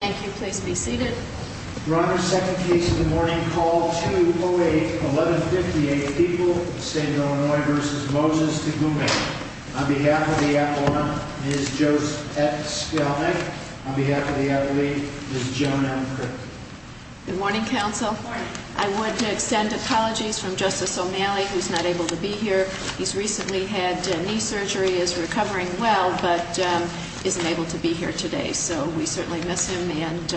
Thank you, please be seated. Your Honor, second case of the morning, call 208-1158, people of the state of Illinois v. Moses Tugume. On behalf of the attorney, Ms. Joette Spelman. On behalf of the attorney, Ms. Joan M. Crick. Good morning, counsel. I would extend apologies from Justice O'Malley, who's not able to be here. He's recently had knee surgery, is recovering well, but isn't able to be here today. So we certainly miss him, and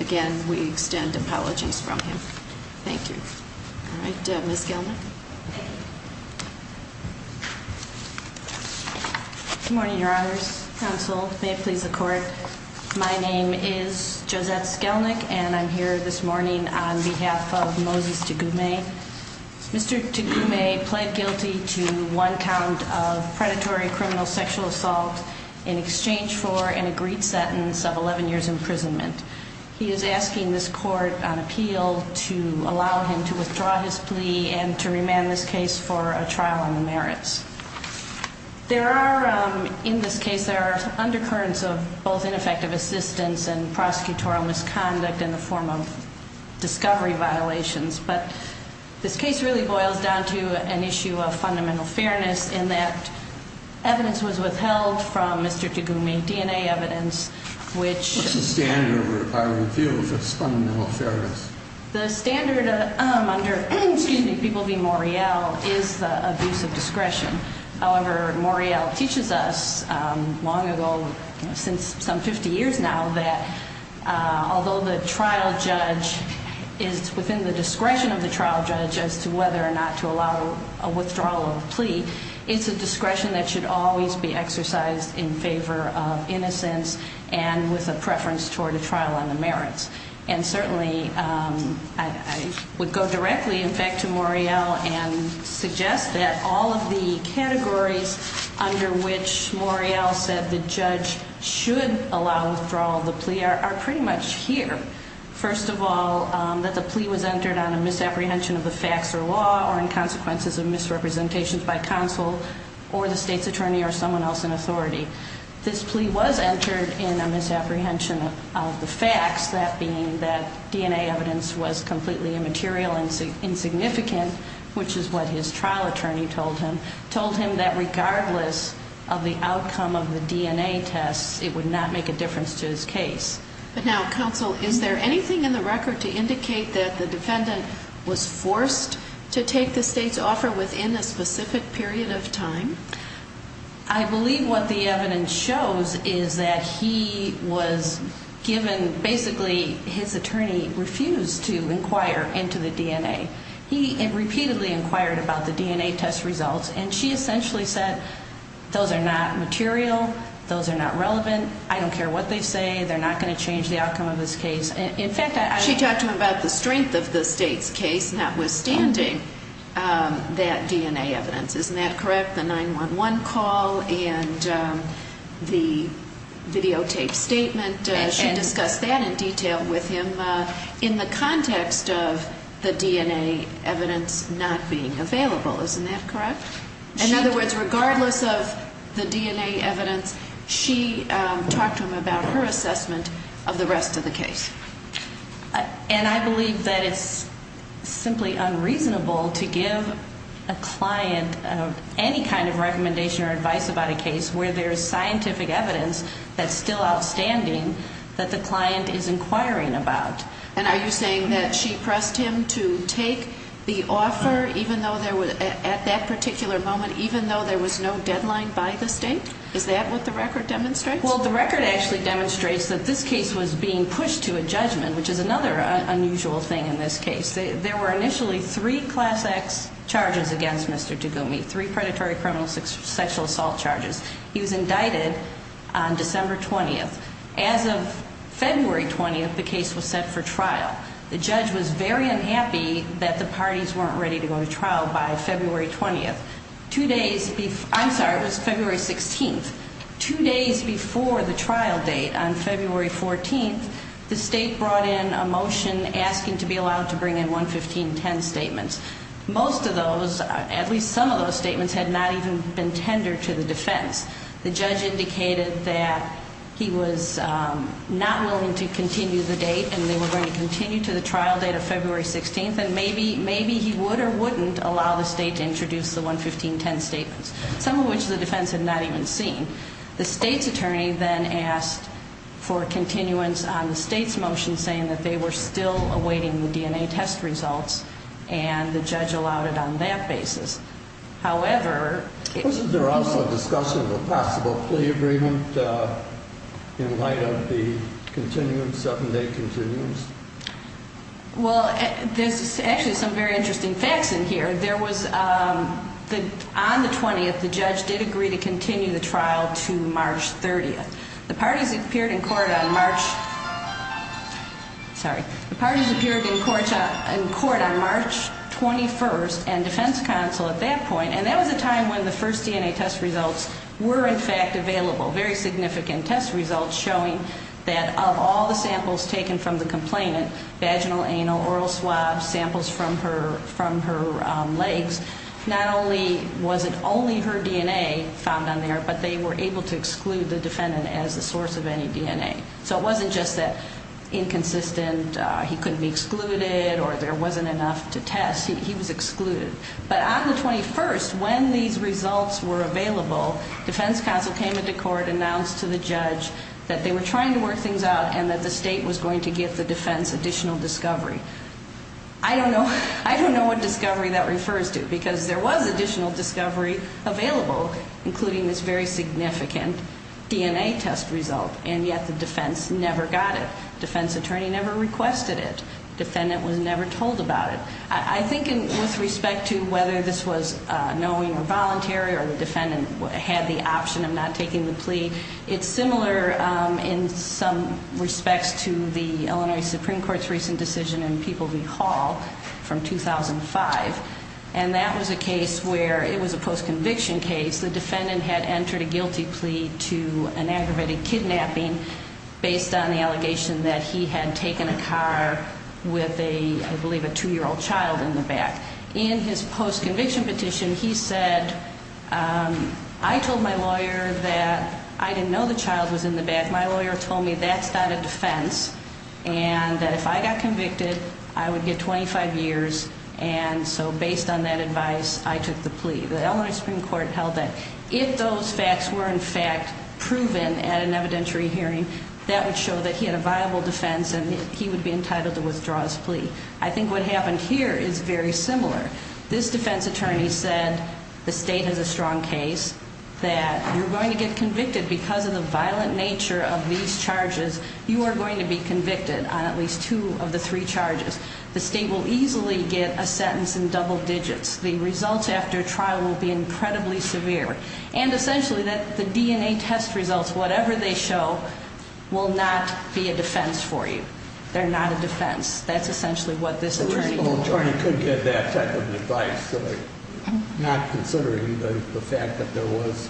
again, we extend apologies from him. Thank you. All right, Ms. Gelnick. Good morning, Your Honors. Counsel, may it please the Court. My name is Joette Gelnick, and I'm here this morning on behalf of Moses Tugume. Mr. Tugume pled guilty to one count of predatory criminal sexual assault in exchange for an agreed sentence of 11 years' imprisonment. He is asking this Court on appeal to allow him to withdraw his plea and to remand this case for a trial on the merits. There are, in this case, there are undercurrents of both ineffective assistance and prosecutorial misconduct in the form of discovery violations. But this case really boils down to an issue of fundamental fairness in that evidence was withheld from Mr. Tugume, DNA evidence, which What's the standard required in the field for this fundamental fairness? The standard under people named Morreale is the abuse of discretion. However, Morreale teaches us long ago, since some 50 years now, that although the trial judge is within the discretion of the trial judge as to whether or not to allow a withdrawal of the plea, it's a discretion that should always be exercised in favor of innocence and with a preference toward a trial on the merits. And certainly, I would go directly, in fact, to Morreale and suggest that all of the categories under which Morreale said the judge should allow withdrawal of the plea are pretty much here. First of all, that the plea was entered on a misapprehension of the facts or law or in consequences of misrepresentations by counsel or the state's attorney or someone else in authority. This plea was entered in a misapprehension of the facts, that being that DNA evidence was completely immaterial and insignificant, which is what his trial attorney told him, told him that regardless of the outcome of the DNA tests, it would not make a difference to his case. But now, counsel, is there anything in the record to indicate that the defendant was forced to take the state's offer within a specific period of time? I believe what the evidence shows is that he was given, basically, his attorney refused to inquire into the DNA. He repeatedly inquired about the DNA test results, and she essentially said, those are not material, those are not relevant, I don't care what they say, they're not going to change the outcome of this case. She talked to him about the strength of the state's case, notwithstanding that DNA evidence. Isn't that correct? The 911 call and the videotaped statement, she discussed that in detail with him in the context of the DNA evidence not being available. Isn't that correct? In other words, regardless of the DNA evidence, she talked to him about her assessment of the rest of the case. And I believe that it's simply unreasonable to give a client any kind of recommendation or advice about a case where there's scientific evidence that's still outstanding that the client is inquiring about. And are you saying that she pressed him to take the offer at that particular moment, even though there was no deadline by the state? Is that what the record demonstrates? Well, the record actually demonstrates that this case was being pushed to a judgment, which is another unusual thing in this case. There were initially three Class X charges against Mr. Dugumi, three predatory criminal sexual assault charges. He was indicted on December 20th. As of February 20th, the case was set for trial. The judge was very unhappy that the parties weren't ready to go to trial by February 20th. I'm sorry, it was February 16th. Two days before the trial date on February 14th, the state brought in a motion asking to be allowed to bring in 11510 statements. Most of those, at least some of those statements, had not even been tendered to the defense. The judge indicated that he was not willing to continue the date, and they were going to continue to the trial date of February 16th. And maybe he would or wouldn't allow the state to introduce the 11510 statements, some of which the defense had not even seen. The state's attorney then asked for continuance on the state's motion saying that they were still awaiting the DNA test results, and the judge allowed it on that basis. Was there also discussion of a possible plea agreement in light of the 7-day continuance? Well, there's actually some very interesting facts in here. On the 20th, the judge did agree to continue the trial to March 30th. The parties appeared in court on March 21st, and defense counsel at that point, and that was a time when the first DNA test results were in fact available. Very significant test results showing that of all the samples taken from the complainant, vaginal, anal, oral swab, samples from her legs, not only was it only her DNA found on there, but they were able to exclude the defendant as the source of any DNA. So it wasn't just that inconsistent he couldn't be excluded or there wasn't enough to test. He was excluded. But on the 21st, when these results were available, defense counsel came into court, announced to the judge that they were trying to work things out and that the state was going to give the defense additional discovery. I don't know what discovery that refers to because there was additional discovery available, including this very significant DNA test result, and yet the defense never got it. Defense attorney never requested it. Defendant was never told about it. I think with respect to whether this was knowing or voluntary or the defendant had the option of not taking the plea, it's similar in some respects to the Illinois Supreme Court's recent decision in People v. Hall from 2005. And that was a case where it was a post-conviction case. The defendant had entered a guilty plea to an aggravated kidnapping based on the allegation that he had taken a car with, I believe, a 2-year-old child in the back. In his post-conviction petition, he said, I told my lawyer that I didn't know the child was in the back. My lawyer told me that's not a defense and that if I got convicted, I would get 25 years. And so based on that advice, I took the plea. The Illinois Supreme Court held that if those facts were, in fact, proven at an evidentiary hearing, that would show that he had a viable defense and he would be entitled to withdraw his plea. I think what happened here is very similar. This defense attorney said the state has a strong case, that you're going to get convicted because of the violent nature of these charges. You are going to be convicted on at least two of the three charges. The state will easily get a sentence in double digits. The results after trial will be incredibly severe. And essentially, the DNA test results, whatever they show, will not be a defense for you. They're not a defense. That's essentially what this attorney reported. The original attorney couldn't get that type of advice, not considering the fact that there was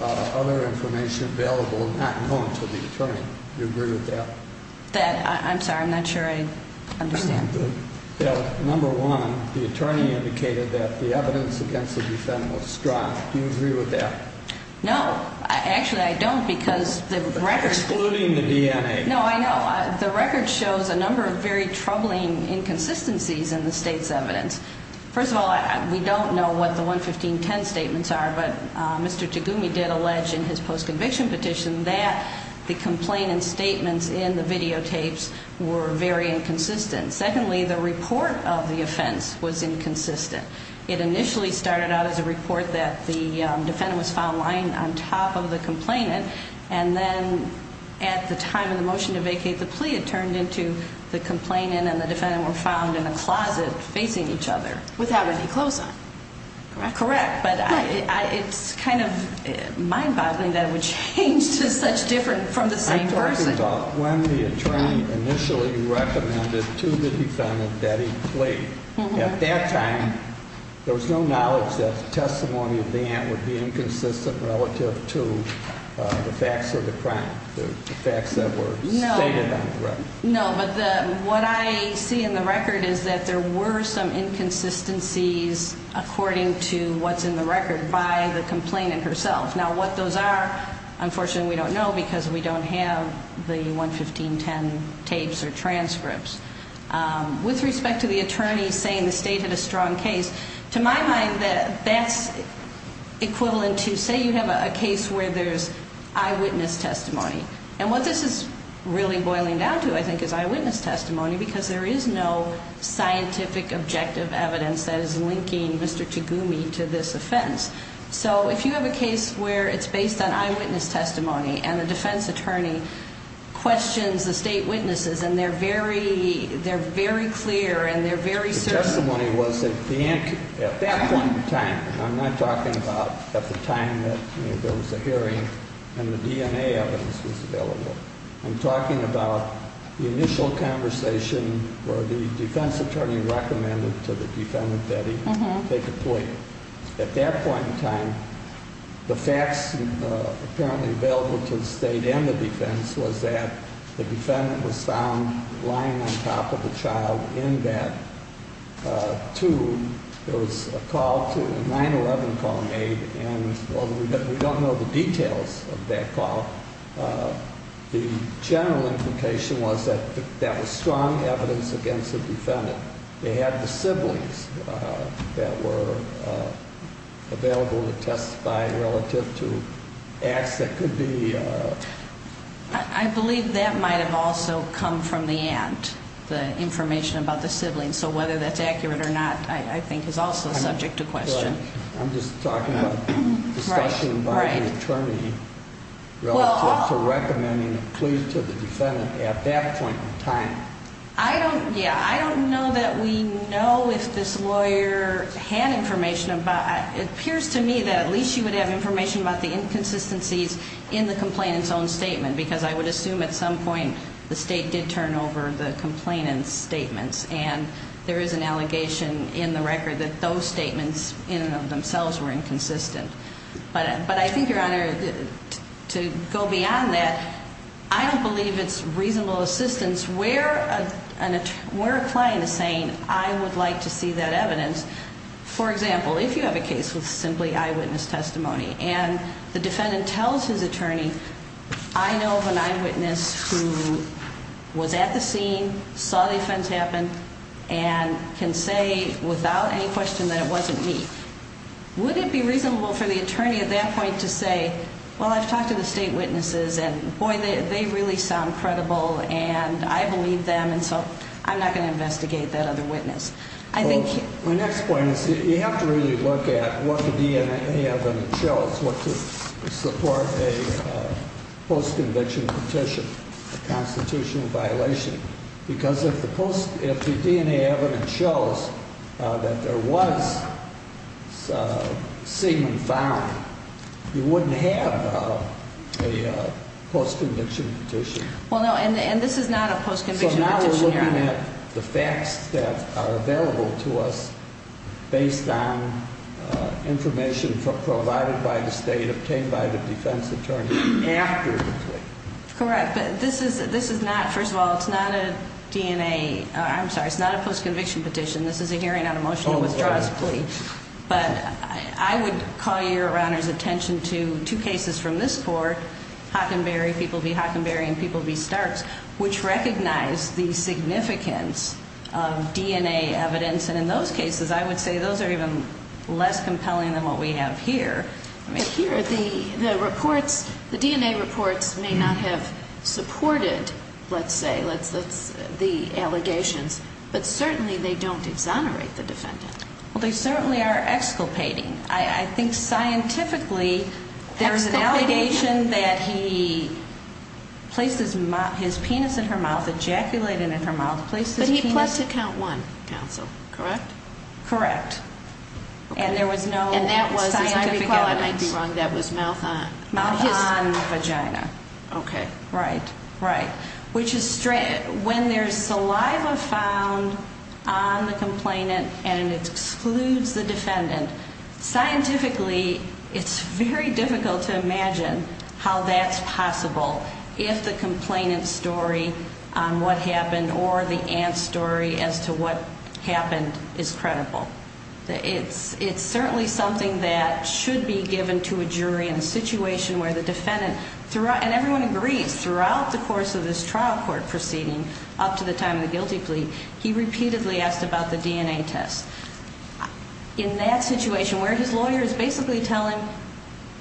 other information available not known to the attorney. Do you agree with that? I'm sorry. I'm not sure I understand. Number one, the attorney indicated that the evidence against the defendant was strong. Do you agree with that? No. Actually, I don't because the record- Excluding the DNA. No, I know. The record shows a number of very troubling inconsistencies in the state's evidence. First of all, we don't know what the 11510 statements are, but Mr. Tagumi did allege in his post-conviction petition that the complainant's statements in the videotapes were very inconsistent. Secondly, the report of the offense was inconsistent. It initially started out as a report that the defendant was found lying on top of the complainant, and then at the time of the motion to vacate the plea, it turned into the complainant and the defendant were found in a closet facing each other. Without any clothes on. Correct, but it's kind of mind-boggling that it would change to such different from the same person. I'm talking about when the attorney initially recommended to the defendant that he plead. At that time, there was no knowledge that the testimony of the aunt would be inconsistent relative to the facts of the crime, the facts that were stated on the record. No, but what I see in the record is that there were some inconsistencies according to what's in the record by the complainant herself. Now, what those are, unfortunately, we don't know because we don't have the 11510 tapes or transcripts. With respect to the attorney saying the state had a strong case, to my mind, that's equivalent to say you have a case where there's eyewitness testimony. And what this is really boiling down to, I think, is eyewitness testimony because there is no scientific objective evidence that is linking Mr. Tagumi to this offense. So if you have a case where it's based on eyewitness testimony and the defense attorney questions the state witnesses and they're very clear and they're very certain- The testimony was that the aunt, at that point in time, I'm not talking about at the time that there was a hearing and the DNA evidence was available. I'm talking about the initial conversation where the defense attorney recommended to the defendant that he take a plea. At that point in time, the facts apparently available to the state and the defense was that the defendant was found lying on top of a child in bed. Two, there was a call, a 911 call made, and although we don't know the details of that call, the general implication was that that was strong evidence against the defendant. They had the siblings that were available to testify relative to acts that could be- I believe that might have also come from the aunt, the information about the siblings. So whether that's accurate or not, I think, is also subject to question. I'm just talking about discussion by the attorney relative to recommending a plea to the defendant at that point in time. Yeah, I don't know that we know if this lawyer had information about- It appears to me that at least she would have information about the inconsistencies in the complainant's own statement, because I would assume at some point the state did turn over the complainant's statements, and there is an allegation in the record that those statements in and of themselves were inconsistent. But I think, Your Honor, to go beyond that, I don't believe it's reasonable assistance where a client is saying, I would like to see that evidence. For example, if you have a case with simply eyewitness testimony, and the defendant tells his attorney, I know of an eyewitness who was at the scene, saw the offense happen, and can say without any question that it wasn't me. Would it be reasonable for the attorney at that point to say, well, I've talked to the state witnesses, and boy, they really sound credible, and I believe them, and so I'm not going to investigate that other witness. Well, my next point is you have to really look at what the DNA evidence shows, what to support a post-conviction petition, a constitutional violation. Because if the DNA evidence shows that there was a statement found, you wouldn't have a post-conviction petition. Well, no, and this is not a post-conviction petition, Your Honor. So now we're looking at the facts that are available to us based on information provided by the state, obtained by the defense attorney after the complaint. Correct, but this is not, first of all, it's not a DNA, I'm sorry, it's not a post-conviction petition. This is a hearing on a motion to withdraw this plea. But I would call Your Honor's attention to two cases from this court, Hockenberry v. Hockenberry and people v. Starks, which recognize the significance of DNA evidence. And in those cases, I would say those are even less compelling than what we have here. But here, the reports, the DNA reports may not have supported, let's say, the allegations, but certainly they don't exonerate the defendant. Well, they certainly are exculpating. I think scientifically there is an allegation that he placed his penis in her mouth, ejaculated it in her mouth, placed his penis. But he pled to count one, counsel, correct? Correct. And there was no scientific evidence. And that was, as I recall, I might be wrong, that was mouth on. Mouth on vagina. Okay. Right, right. Which is strange. When there's saliva found on the complainant and it excludes the defendant, scientifically it's very difficult to imagine how that's possible if the complainant's story on what happened or the aunt's story as to what happened is credible. It's certainly something that should be given to a jury in a situation where the defendant, and everyone agrees, throughout the course of this trial court proceeding up to the time of the guilty plea, he repeatedly asked about the DNA test. In that situation where his lawyers basically tell him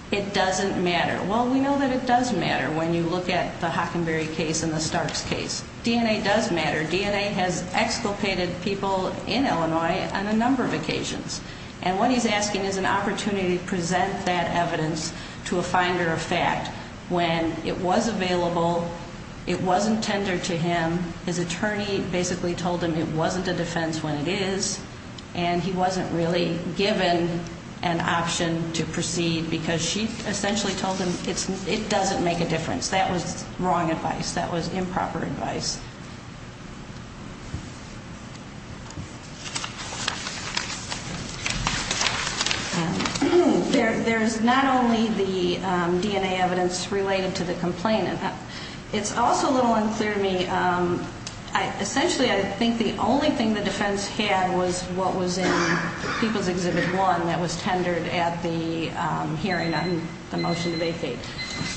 it doesn't matter. Well, we know that it does matter when you look at the Hockenberry case and the Starks case. DNA does matter. DNA has exculpated people in Illinois on a number of occasions. And what he's asking is an opportunity to present that evidence to a finder of fact when it was available, it wasn't tendered to him, his attorney basically told him it wasn't a defense when it is, and he wasn't really given an option to proceed because she essentially told him it doesn't make a difference. That was wrong advice. That was improper advice. There's not only the DNA evidence related to the complainant. It's also a little unclear to me. Essentially, I think the only thing the defense had was what was in People's Exhibit 1 that was tendered at the hearing on the motion to vacate.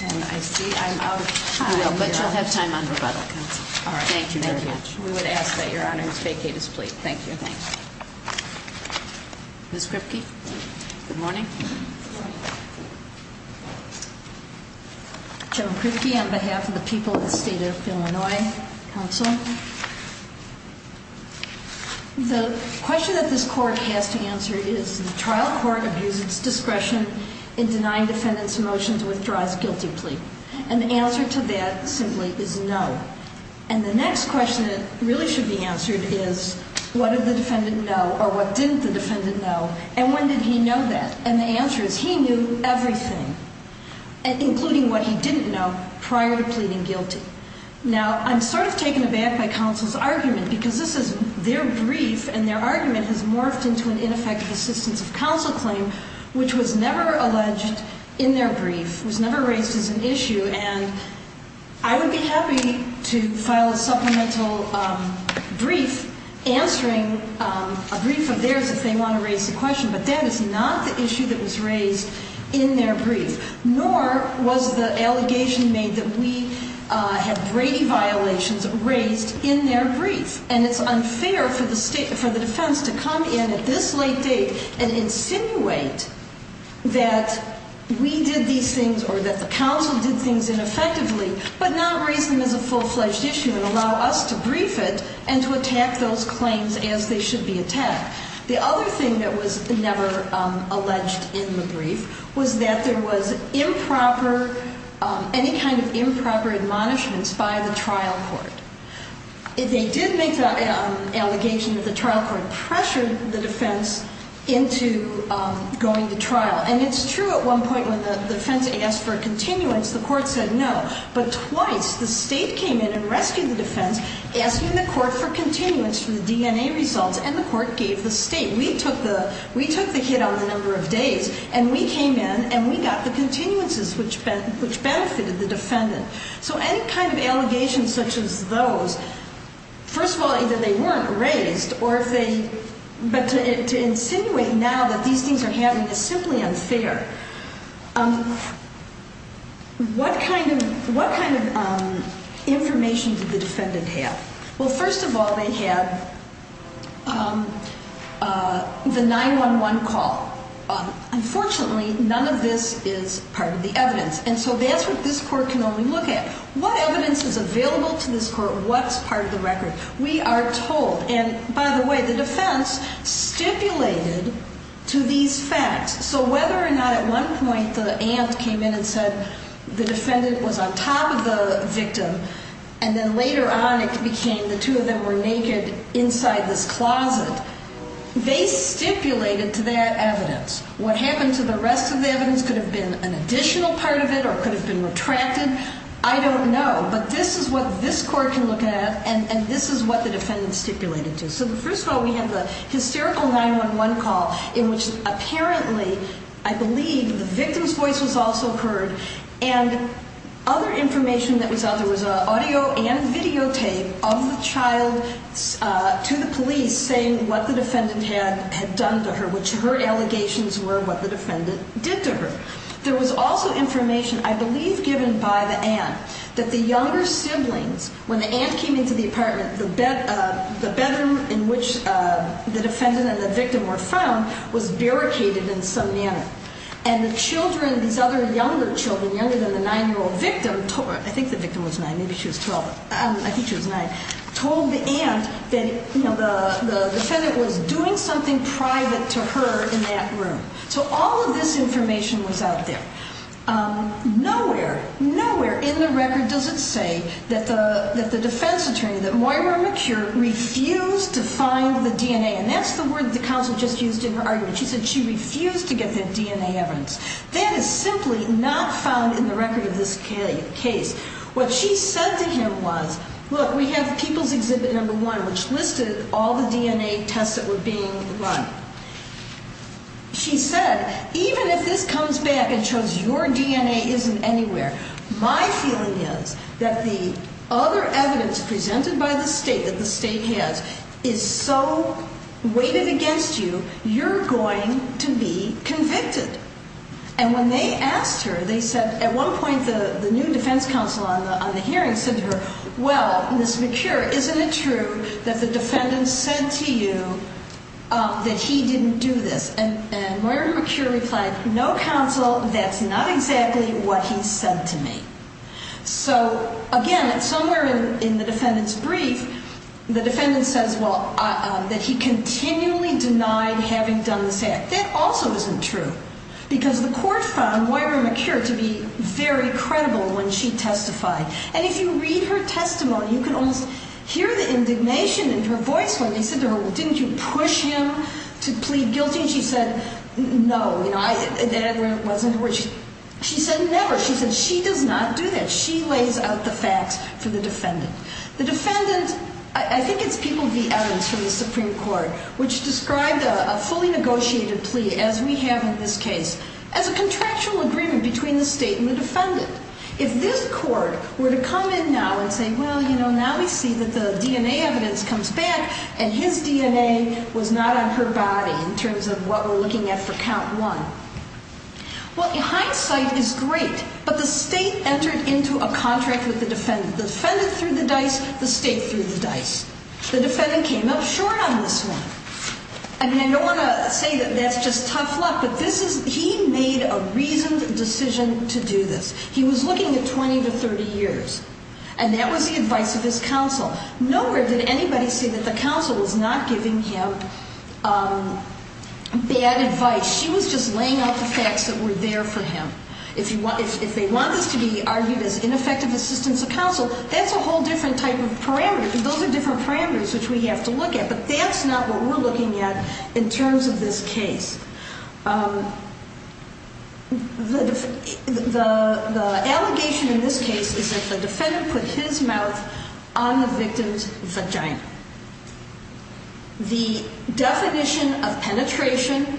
And I see I'm out of time. You will, but you'll have time on rebuttal, counsel. All right. Thank you very much. We would ask that Your Honors vacate his plea. Thank you. Thank you. Ms. Kripke? Good morning. Jim Kripke on behalf of the people of the state of Illinois. Counsel. The question that this court has to answer is the trial court abused its discretion in denying defendant's motion to withdraw his guilty plea. And the answer to that simply is no. And the next question that really should be answered is what did the defendant know or what didn't the defendant know and when did he know that? And the answer is he knew everything, including what he didn't know prior to pleading guilty. Now, I'm sort of taken aback by counsel's argument because this is their brief and their argument has morphed into an ineffective assistance of counsel claim, which was never alleged in their brief, was never raised as an issue. And I would be happy to file a supplemental brief answering a brief of theirs if they want to raise a question. But that is not the issue that was raised in their brief, nor was the allegation made that we had Brady violations raised in their brief. And it's unfair for the defense to come in at this late date and insinuate that we did these things or that the counsel did things ineffectively, but not raise them as a full-fledged issue and allow us to brief it and to attack those claims as they should be attacked. The other thing that was never alleged in the brief was that there was improper, any kind of improper admonishments by the trial court. They did make the allegation that the trial court pressured the defense into going to trial. And it's true at one point when the defense asked for a continuance, the court said no. But twice the state came in and rescued the defense, asking the court for continuance for the DNA results, and the court gave the state. We took the hit on the number of days, and we came in and we got the continuances, which benefited the defendant. So any kind of allegations such as those, first of all, either they weren't raised or if they, but to insinuate now that these things are happening is simply unfair. What kind of information did the defendant have? Well, first of all, they had the 911 call. Unfortunately, none of this is part of the evidence. And so that's what this court can only look at. What evidence is available to this court? What's part of the record? We are told, and by the way, the defense stipulated to these facts. So whether or not at one point the aunt came in and said the defendant was on top of the victim, and then later on it became the two of them were naked inside this closet. They stipulated to that evidence. What happened to the rest of the evidence could have been an additional part of it or could have been retracted. I don't know. But this is what this court can look at, and this is what the defendant stipulated to. So first of all, we have the hysterical 911 call in which apparently, I believe, the victim's voice was also heard. And other information that was out, there was audio and videotape of the child to the police saying what the defendant had done to her, which her allegations were what the defendant did to her. There was also information, I believe given by the aunt, that the younger siblings, when the aunt came into the apartment, the bedroom in which the defendant and the victim were found was barricaded in some manner. And the children, these other younger children, younger than the 9-year-old victim, I think the victim was 9, maybe she was 12, I think she was 9, told the aunt that the defendant was doing something private to her in that room. So all of this information was out there. Nowhere, nowhere in the record does it say that the defense attorney, that Moira McCure, refused to find the DNA. And that's the word the counsel just used in her argument. She said she refused to get that DNA evidence. That is simply not found in the record of this case. What she said to him was, look, we have People's Exhibit No. 1, which listed all the DNA tests that were being run. She said, even if this comes back and shows your DNA isn't anywhere, my feeling is that the other evidence presented by the state that the state has is so weighted against you, you're going to be convicted. And when they asked her, they said at one point the new defense counsel on the hearing said to her, well, Ms. McCure, isn't it true that the defendant said to you that he didn't do this? And Moira McCure replied, no, counsel, that's not exactly what he said to me. So, again, somewhere in the defendant's brief, the defendant says, well, that he continually denied having done this act. That also isn't true. Because the court found Moira McCure to be very credible when she testified. And if you read her testimony, you can almost hear the indignation in her voice when they said to her, well, didn't you push him to plead guilty? And she said, no. She said, never. She said, she does not do that. She lays out the facts for the defendant. The defendant, I think it's People v. Evans from the Supreme Court, which described a fully negotiated plea, as we have in this case, as a contractual agreement between the state and the defendant. If this court were to come in now and say, well, you know, now we see that the DNA evidence comes back and his DNA was not on her body in terms of what we're looking at for count one. Well, hindsight is great. But the state entered into a contract with the defendant. The defendant threw the dice. The state threw the dice. The defendant came up short on this one. I mean, I don't want to say that that's just tough luck. But this is, he made a reasoned decision to do this. He was looking at 20 to 30 years. And that was the advice of his counsel. Nowhere did anybody say that the counsel was not giving him bad advice. She was just laying out the facts that were there for him. If they want this to be argued as ineffective assistance of counsel, that's a whole different type of parameter. Those are different parameters which we have to look at. But that's not what we're looking at in terms of this case. The allegation in this case is that the defendant put his mouth on the victim's vagina. The definition of penetration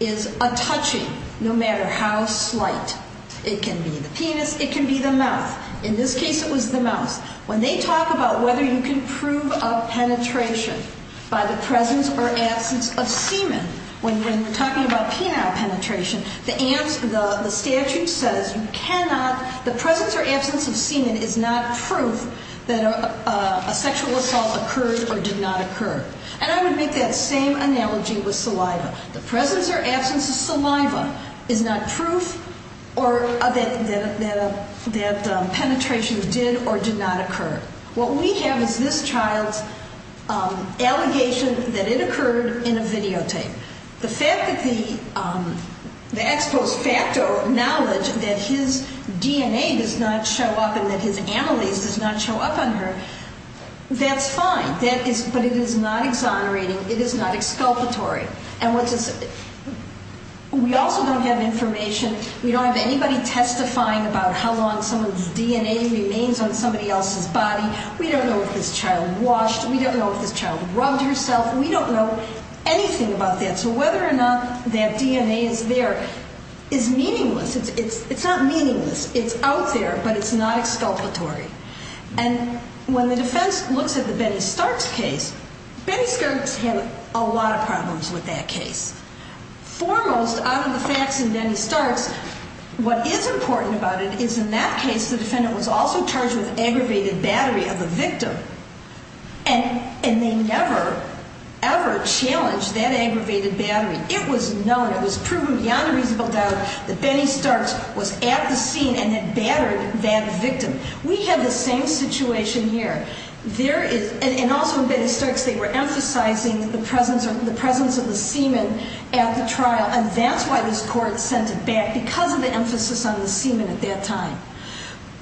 is a touching, no matter how slight. It can be the penis. It can be the mouth. In this case, it was the mouth. When they talk about whether you can prove a penetration by the presence or absence of semen, when we're talking about penile penetration, the statute says you cannot, the presence or absence of semen is not proof that a sexual assault occurred or did not occur. And I would make that same analogy with saliva. The presence or absence of saliva is not proof that penetration did or did not occur. What we have is this child's allegation that it occurred in a videotape. The fact that the ex post facto knowledge that his DNA does not show up and that his amylase does not show up on her, that's fine. But it is not exonerating. It is not exculpatory. And we also don't have information. We don't have anybody testifying about how long someone's DNA remains on somebody else's body. We don't know if this child washed. We don't know if this child rubbed herself. We don't know anything about that. So whether or not that DNA is there is meaningless. It's not meaningless. It's out there, but it's not exculpatory. And when the defense looks at the Benny Starks case, Benny Starks had a lot of problems with that case. Foremost, out of the facts in Benny Starks, what is important about it is in that case, the defendant was also charged with aggravated battery of the victim, and they never, ever challenged that aggravated battery. It was known, it was proven beyond a reasonable doubt, that Benny Starks was at the scene and had battered that victim. We have the same situation here. And also in Benny Starks, they were emphasizing the presence of the semen at the trial, and that's why this court sent it back, because of the emphasis on the semen at that time.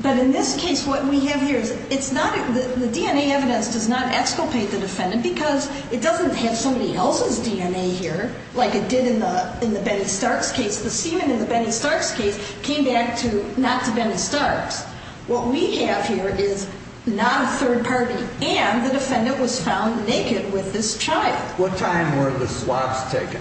But in this case, what we have here is the DNA evidence does not exculpate the defendant because it doesn't have somebody else's DNA here like it did in the Benny Starks case. The semen in the Benny Starks case came back not to Benny Starks. What we have here is not a third party, and the defendant was found naked with this child. What time were the swabs taken?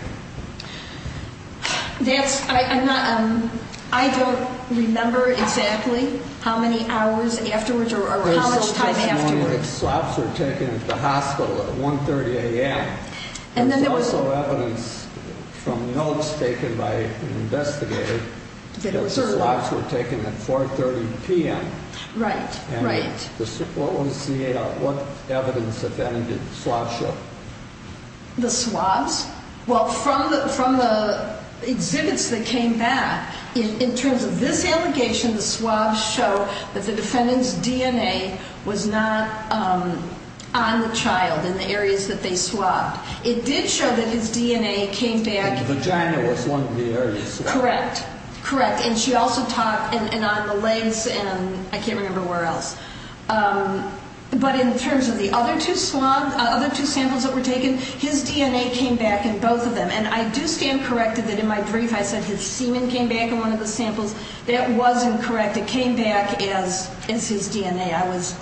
That's, I'm not, I don't remember exactly how many hours afterwards or how much time afterwards. There was just a warning that swabs were taken at the hospital at 1.30 a.m. There was also evidence from notes taken by an investigator that swabs were taken at 4.30 p.m. Right, right. What evidence did the swabs show? The swabs? Well, from the exhibits that came back, in terms of this allegation, the swabs show that the defendant's DNA was not on the child in the areas that they swabbed. It did show that his DNA came back. The vagina was one of the areas swabbed. Correct, correct. And she also talked, and on the legs and I can't remember where else. But in terms of the other two swabs, other two samples that were taken, his DNA came back in both of them. And I do stand corrected that in my brief I said his semen came back in one of the samples. That was incorrect. It came back as his DNA. I was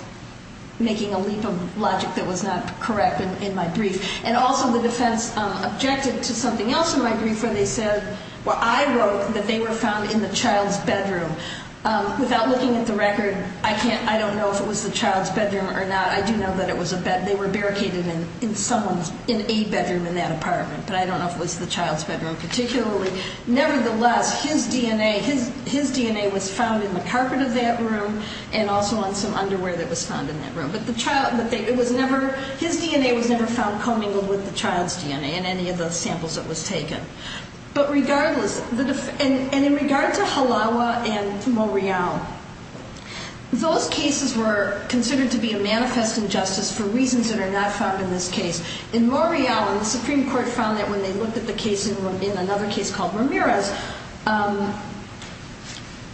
making a leap of logic that was not correct in my brief. And also the defense objected to something else in my brief where they said, well, I wrote that they were found in the child's bedroom. Without looking at the record, I don't know if it was the child's bedroom or not. I do know that they were barricaded in a bedroom in that apartment, but I don't know if it was the child's bedroom particularly. Nevertheless, his DNA was found in the carpet of that room and also on some underwear that was found in that room. But his DNA was never found commingled with the child's DNA in any of the samples that was taken. But regardless, and in regard to Halawa and Morial, those cases were considered to be a manifest injustice for reasons that are not found in this case. In Morial, and the Supreme Court found that when they looked at the case in another case called Ramirez,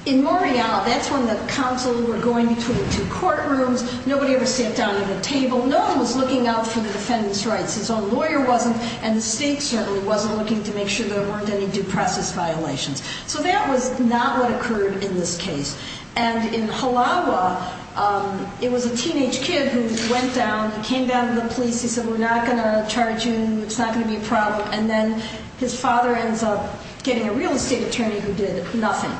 in Morial, that's when the counsels were going between the two courtrooms. Nobody ever sat down at a table. No one was looking out for the defendant's rights. His own lawyer wasn't, and the state certainly wasn't looking to make sure there weren't any due process violations. So that was not what occurred in this case. And in Halawa, it was a teenage kid who went down and came down to the police. He said, we're not going to charge you. It's not going to be a problem. And then his father ends up getting a real estate attorney who did nothing.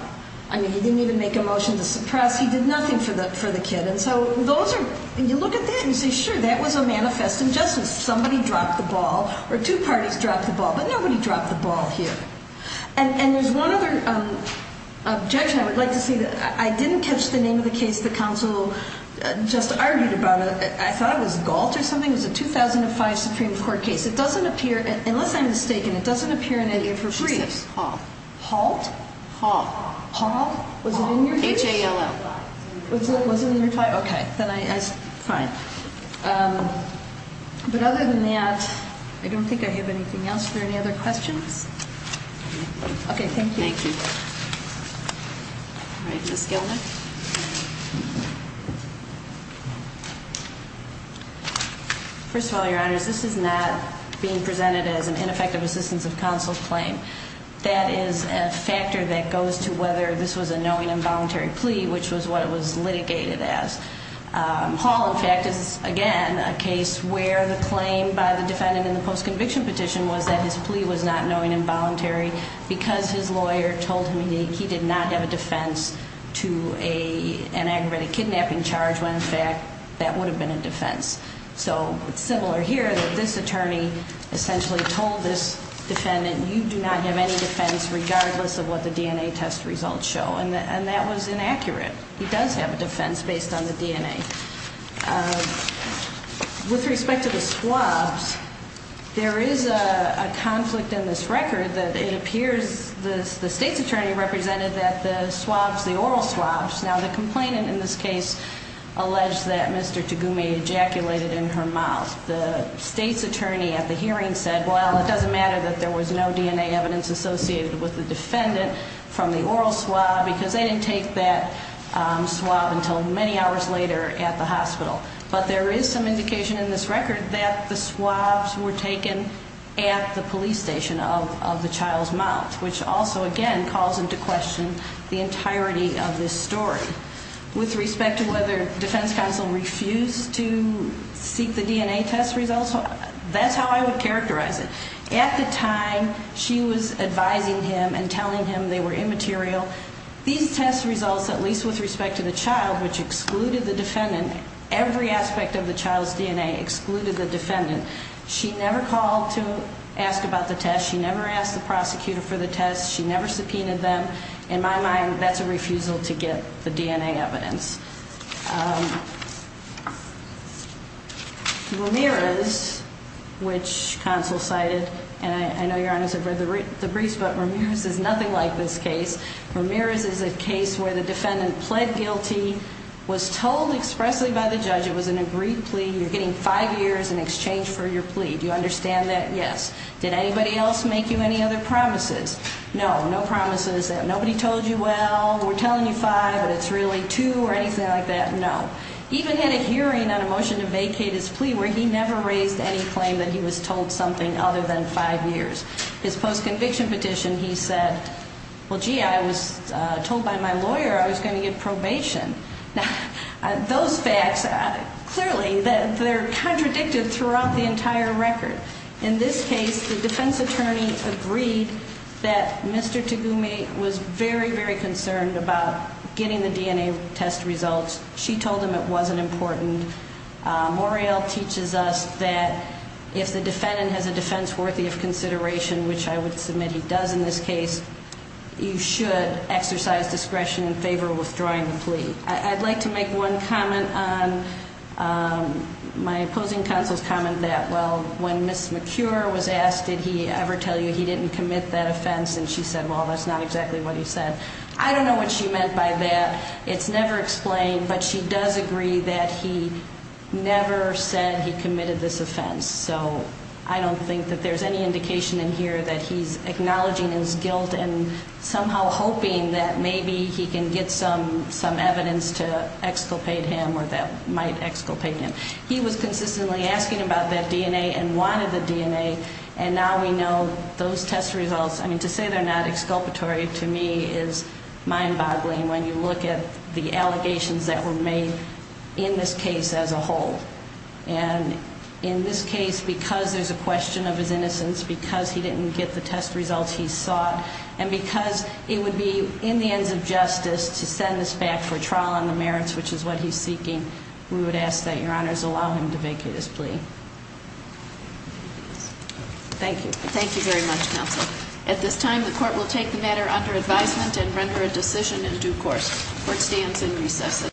I mean, he didn't even make a motion to suppress. He did nothing for the kid. And so those are, you look at that and you say, sure, that was a manifest injustice. Somebody dropped the ball, or two parties dropped the ball, but nobody dropped the ball here. And there's one other objection I would like to see. I didn't catch the name of the case the counsel just argued about. I thought it was Galt or something. It was a 2005 Supreme Court case. It doesn't appear, unless I'm mistaken, it doesn't appear in any of her briefs. She said HALT. HALT? HALT. HALT? Was it in your case? H-A-L-L. Was it in your file? Okay. Fine. But other than that, I don't think I have anything else. Are there any other questions? Okay, thank you. Thank you. All right, Ms. Gilnick. First of all, Your Honors, this is not being presented as an ineffective assistance of counsel claim. That is a factor that goes to whether this was a knowing involuntary plea, which was what it was litigated as. HALT, in fact, is, again, a case where the claim by the defendant in the post-conviction petition was that his plea was not knowing involuntary because his lawyer told him he did not have a defense to an aggravated kidnapping charge when, in fact, that would have been a defense. So it's similar here that this attorney essentially told this defendant, you do not have any defense regardless of what the DNA test results show. And that was inaccurate. He does have a defense based on the DNA. With respect to the swabs, there is a conflict in this record that it appears the state's attorney represented that the swabs, the oral swabs. Now, the complainant in this case alleged that Mr. Tagume ejaculated in her mouth. The state's attorney at the hearing said, well, it doesn't matter that there was no DNA evidence associated with the defendant from the oral swab because they didn't take that swab until many hours later at the hospital. But there is some indication in this record that the swabs were taken at the police station of the child's mouth, which also, again, calls into question the entirety of this story. With respect to whether defense counsel refused to seek the DNA test results, that's how I would characterize it. At the time, she was advising him and telling him they were immaterial. These test results, at least with respect to the child, which excluded the defendant, every aspect of the child's DNA excluded the defendant. She never called to ask about the test. She never asked the prosecutor for the test. She never subpoenaed them. In my mind, that's a refusal to get the DNA evidence. Ramirez, which counsel cited, and I know, Your Honor, I've read the briefs, but Ramirez is nothing like this case. Ramirez is a case where the defendant pled guilty, was told expressly by the judge it was an agreed plea. You're getting five years in exchange for your plea. Do you understand that? Yes. Did anybody else make you any other promises? No. No promises. Nobody told you, well, we're telling you five, but it's really two or anything like that. No. He even had a hearing on a motion to vacate his plea where he never raised any claim that he was told something other than five years. His post-conviction petition, he said, well, gee, I was told by my lawyer I was going to get probation. Now, those facts, clearly, they're contradicted throughout the entire record. In this case, the defense attorney agreed that Mr. Tagume was very, very concerned about getting the DNA test results. She told him it wasn't important. Morreale teaches us that if the defendant has a defense worthy of consideration, which I would submit he does in this case, you should exercise discretion in favor of withdrawing the plea. I'd like to make one comment on my opposing counsel's comment that, well, when Ms. McCure was asked, did he ever tell you he didn't commit that offense, and she said, well, that's not exactly what he said. I don't know what she meant by that. It's never explained, but she does agree that he never said he committed this offense. So I don't think that there's any indication in here that he's acknowledging his guilt and somehow hoping that maybe he can get some evidence to exculpate him or that might exculpate him. He was consistently asking about that DNA and wanted the DNA, and now we know those test results, I mean, to say they're not exculpatory to me is mind-boggling when you look at the allegations that were made in this case as a whole. And in this case, because there's a question of his innocence, because he didn't get the test results he sought, and because it would be in the hands of justice to send this back for trial on the merits, which is what he's seeking, we would ask that Your Honors allow him to vacate his plea. Thank you. Thank you very much, counsel. At this time, the court will take the matter under advisement and render a decision in due course. The court stands in recess.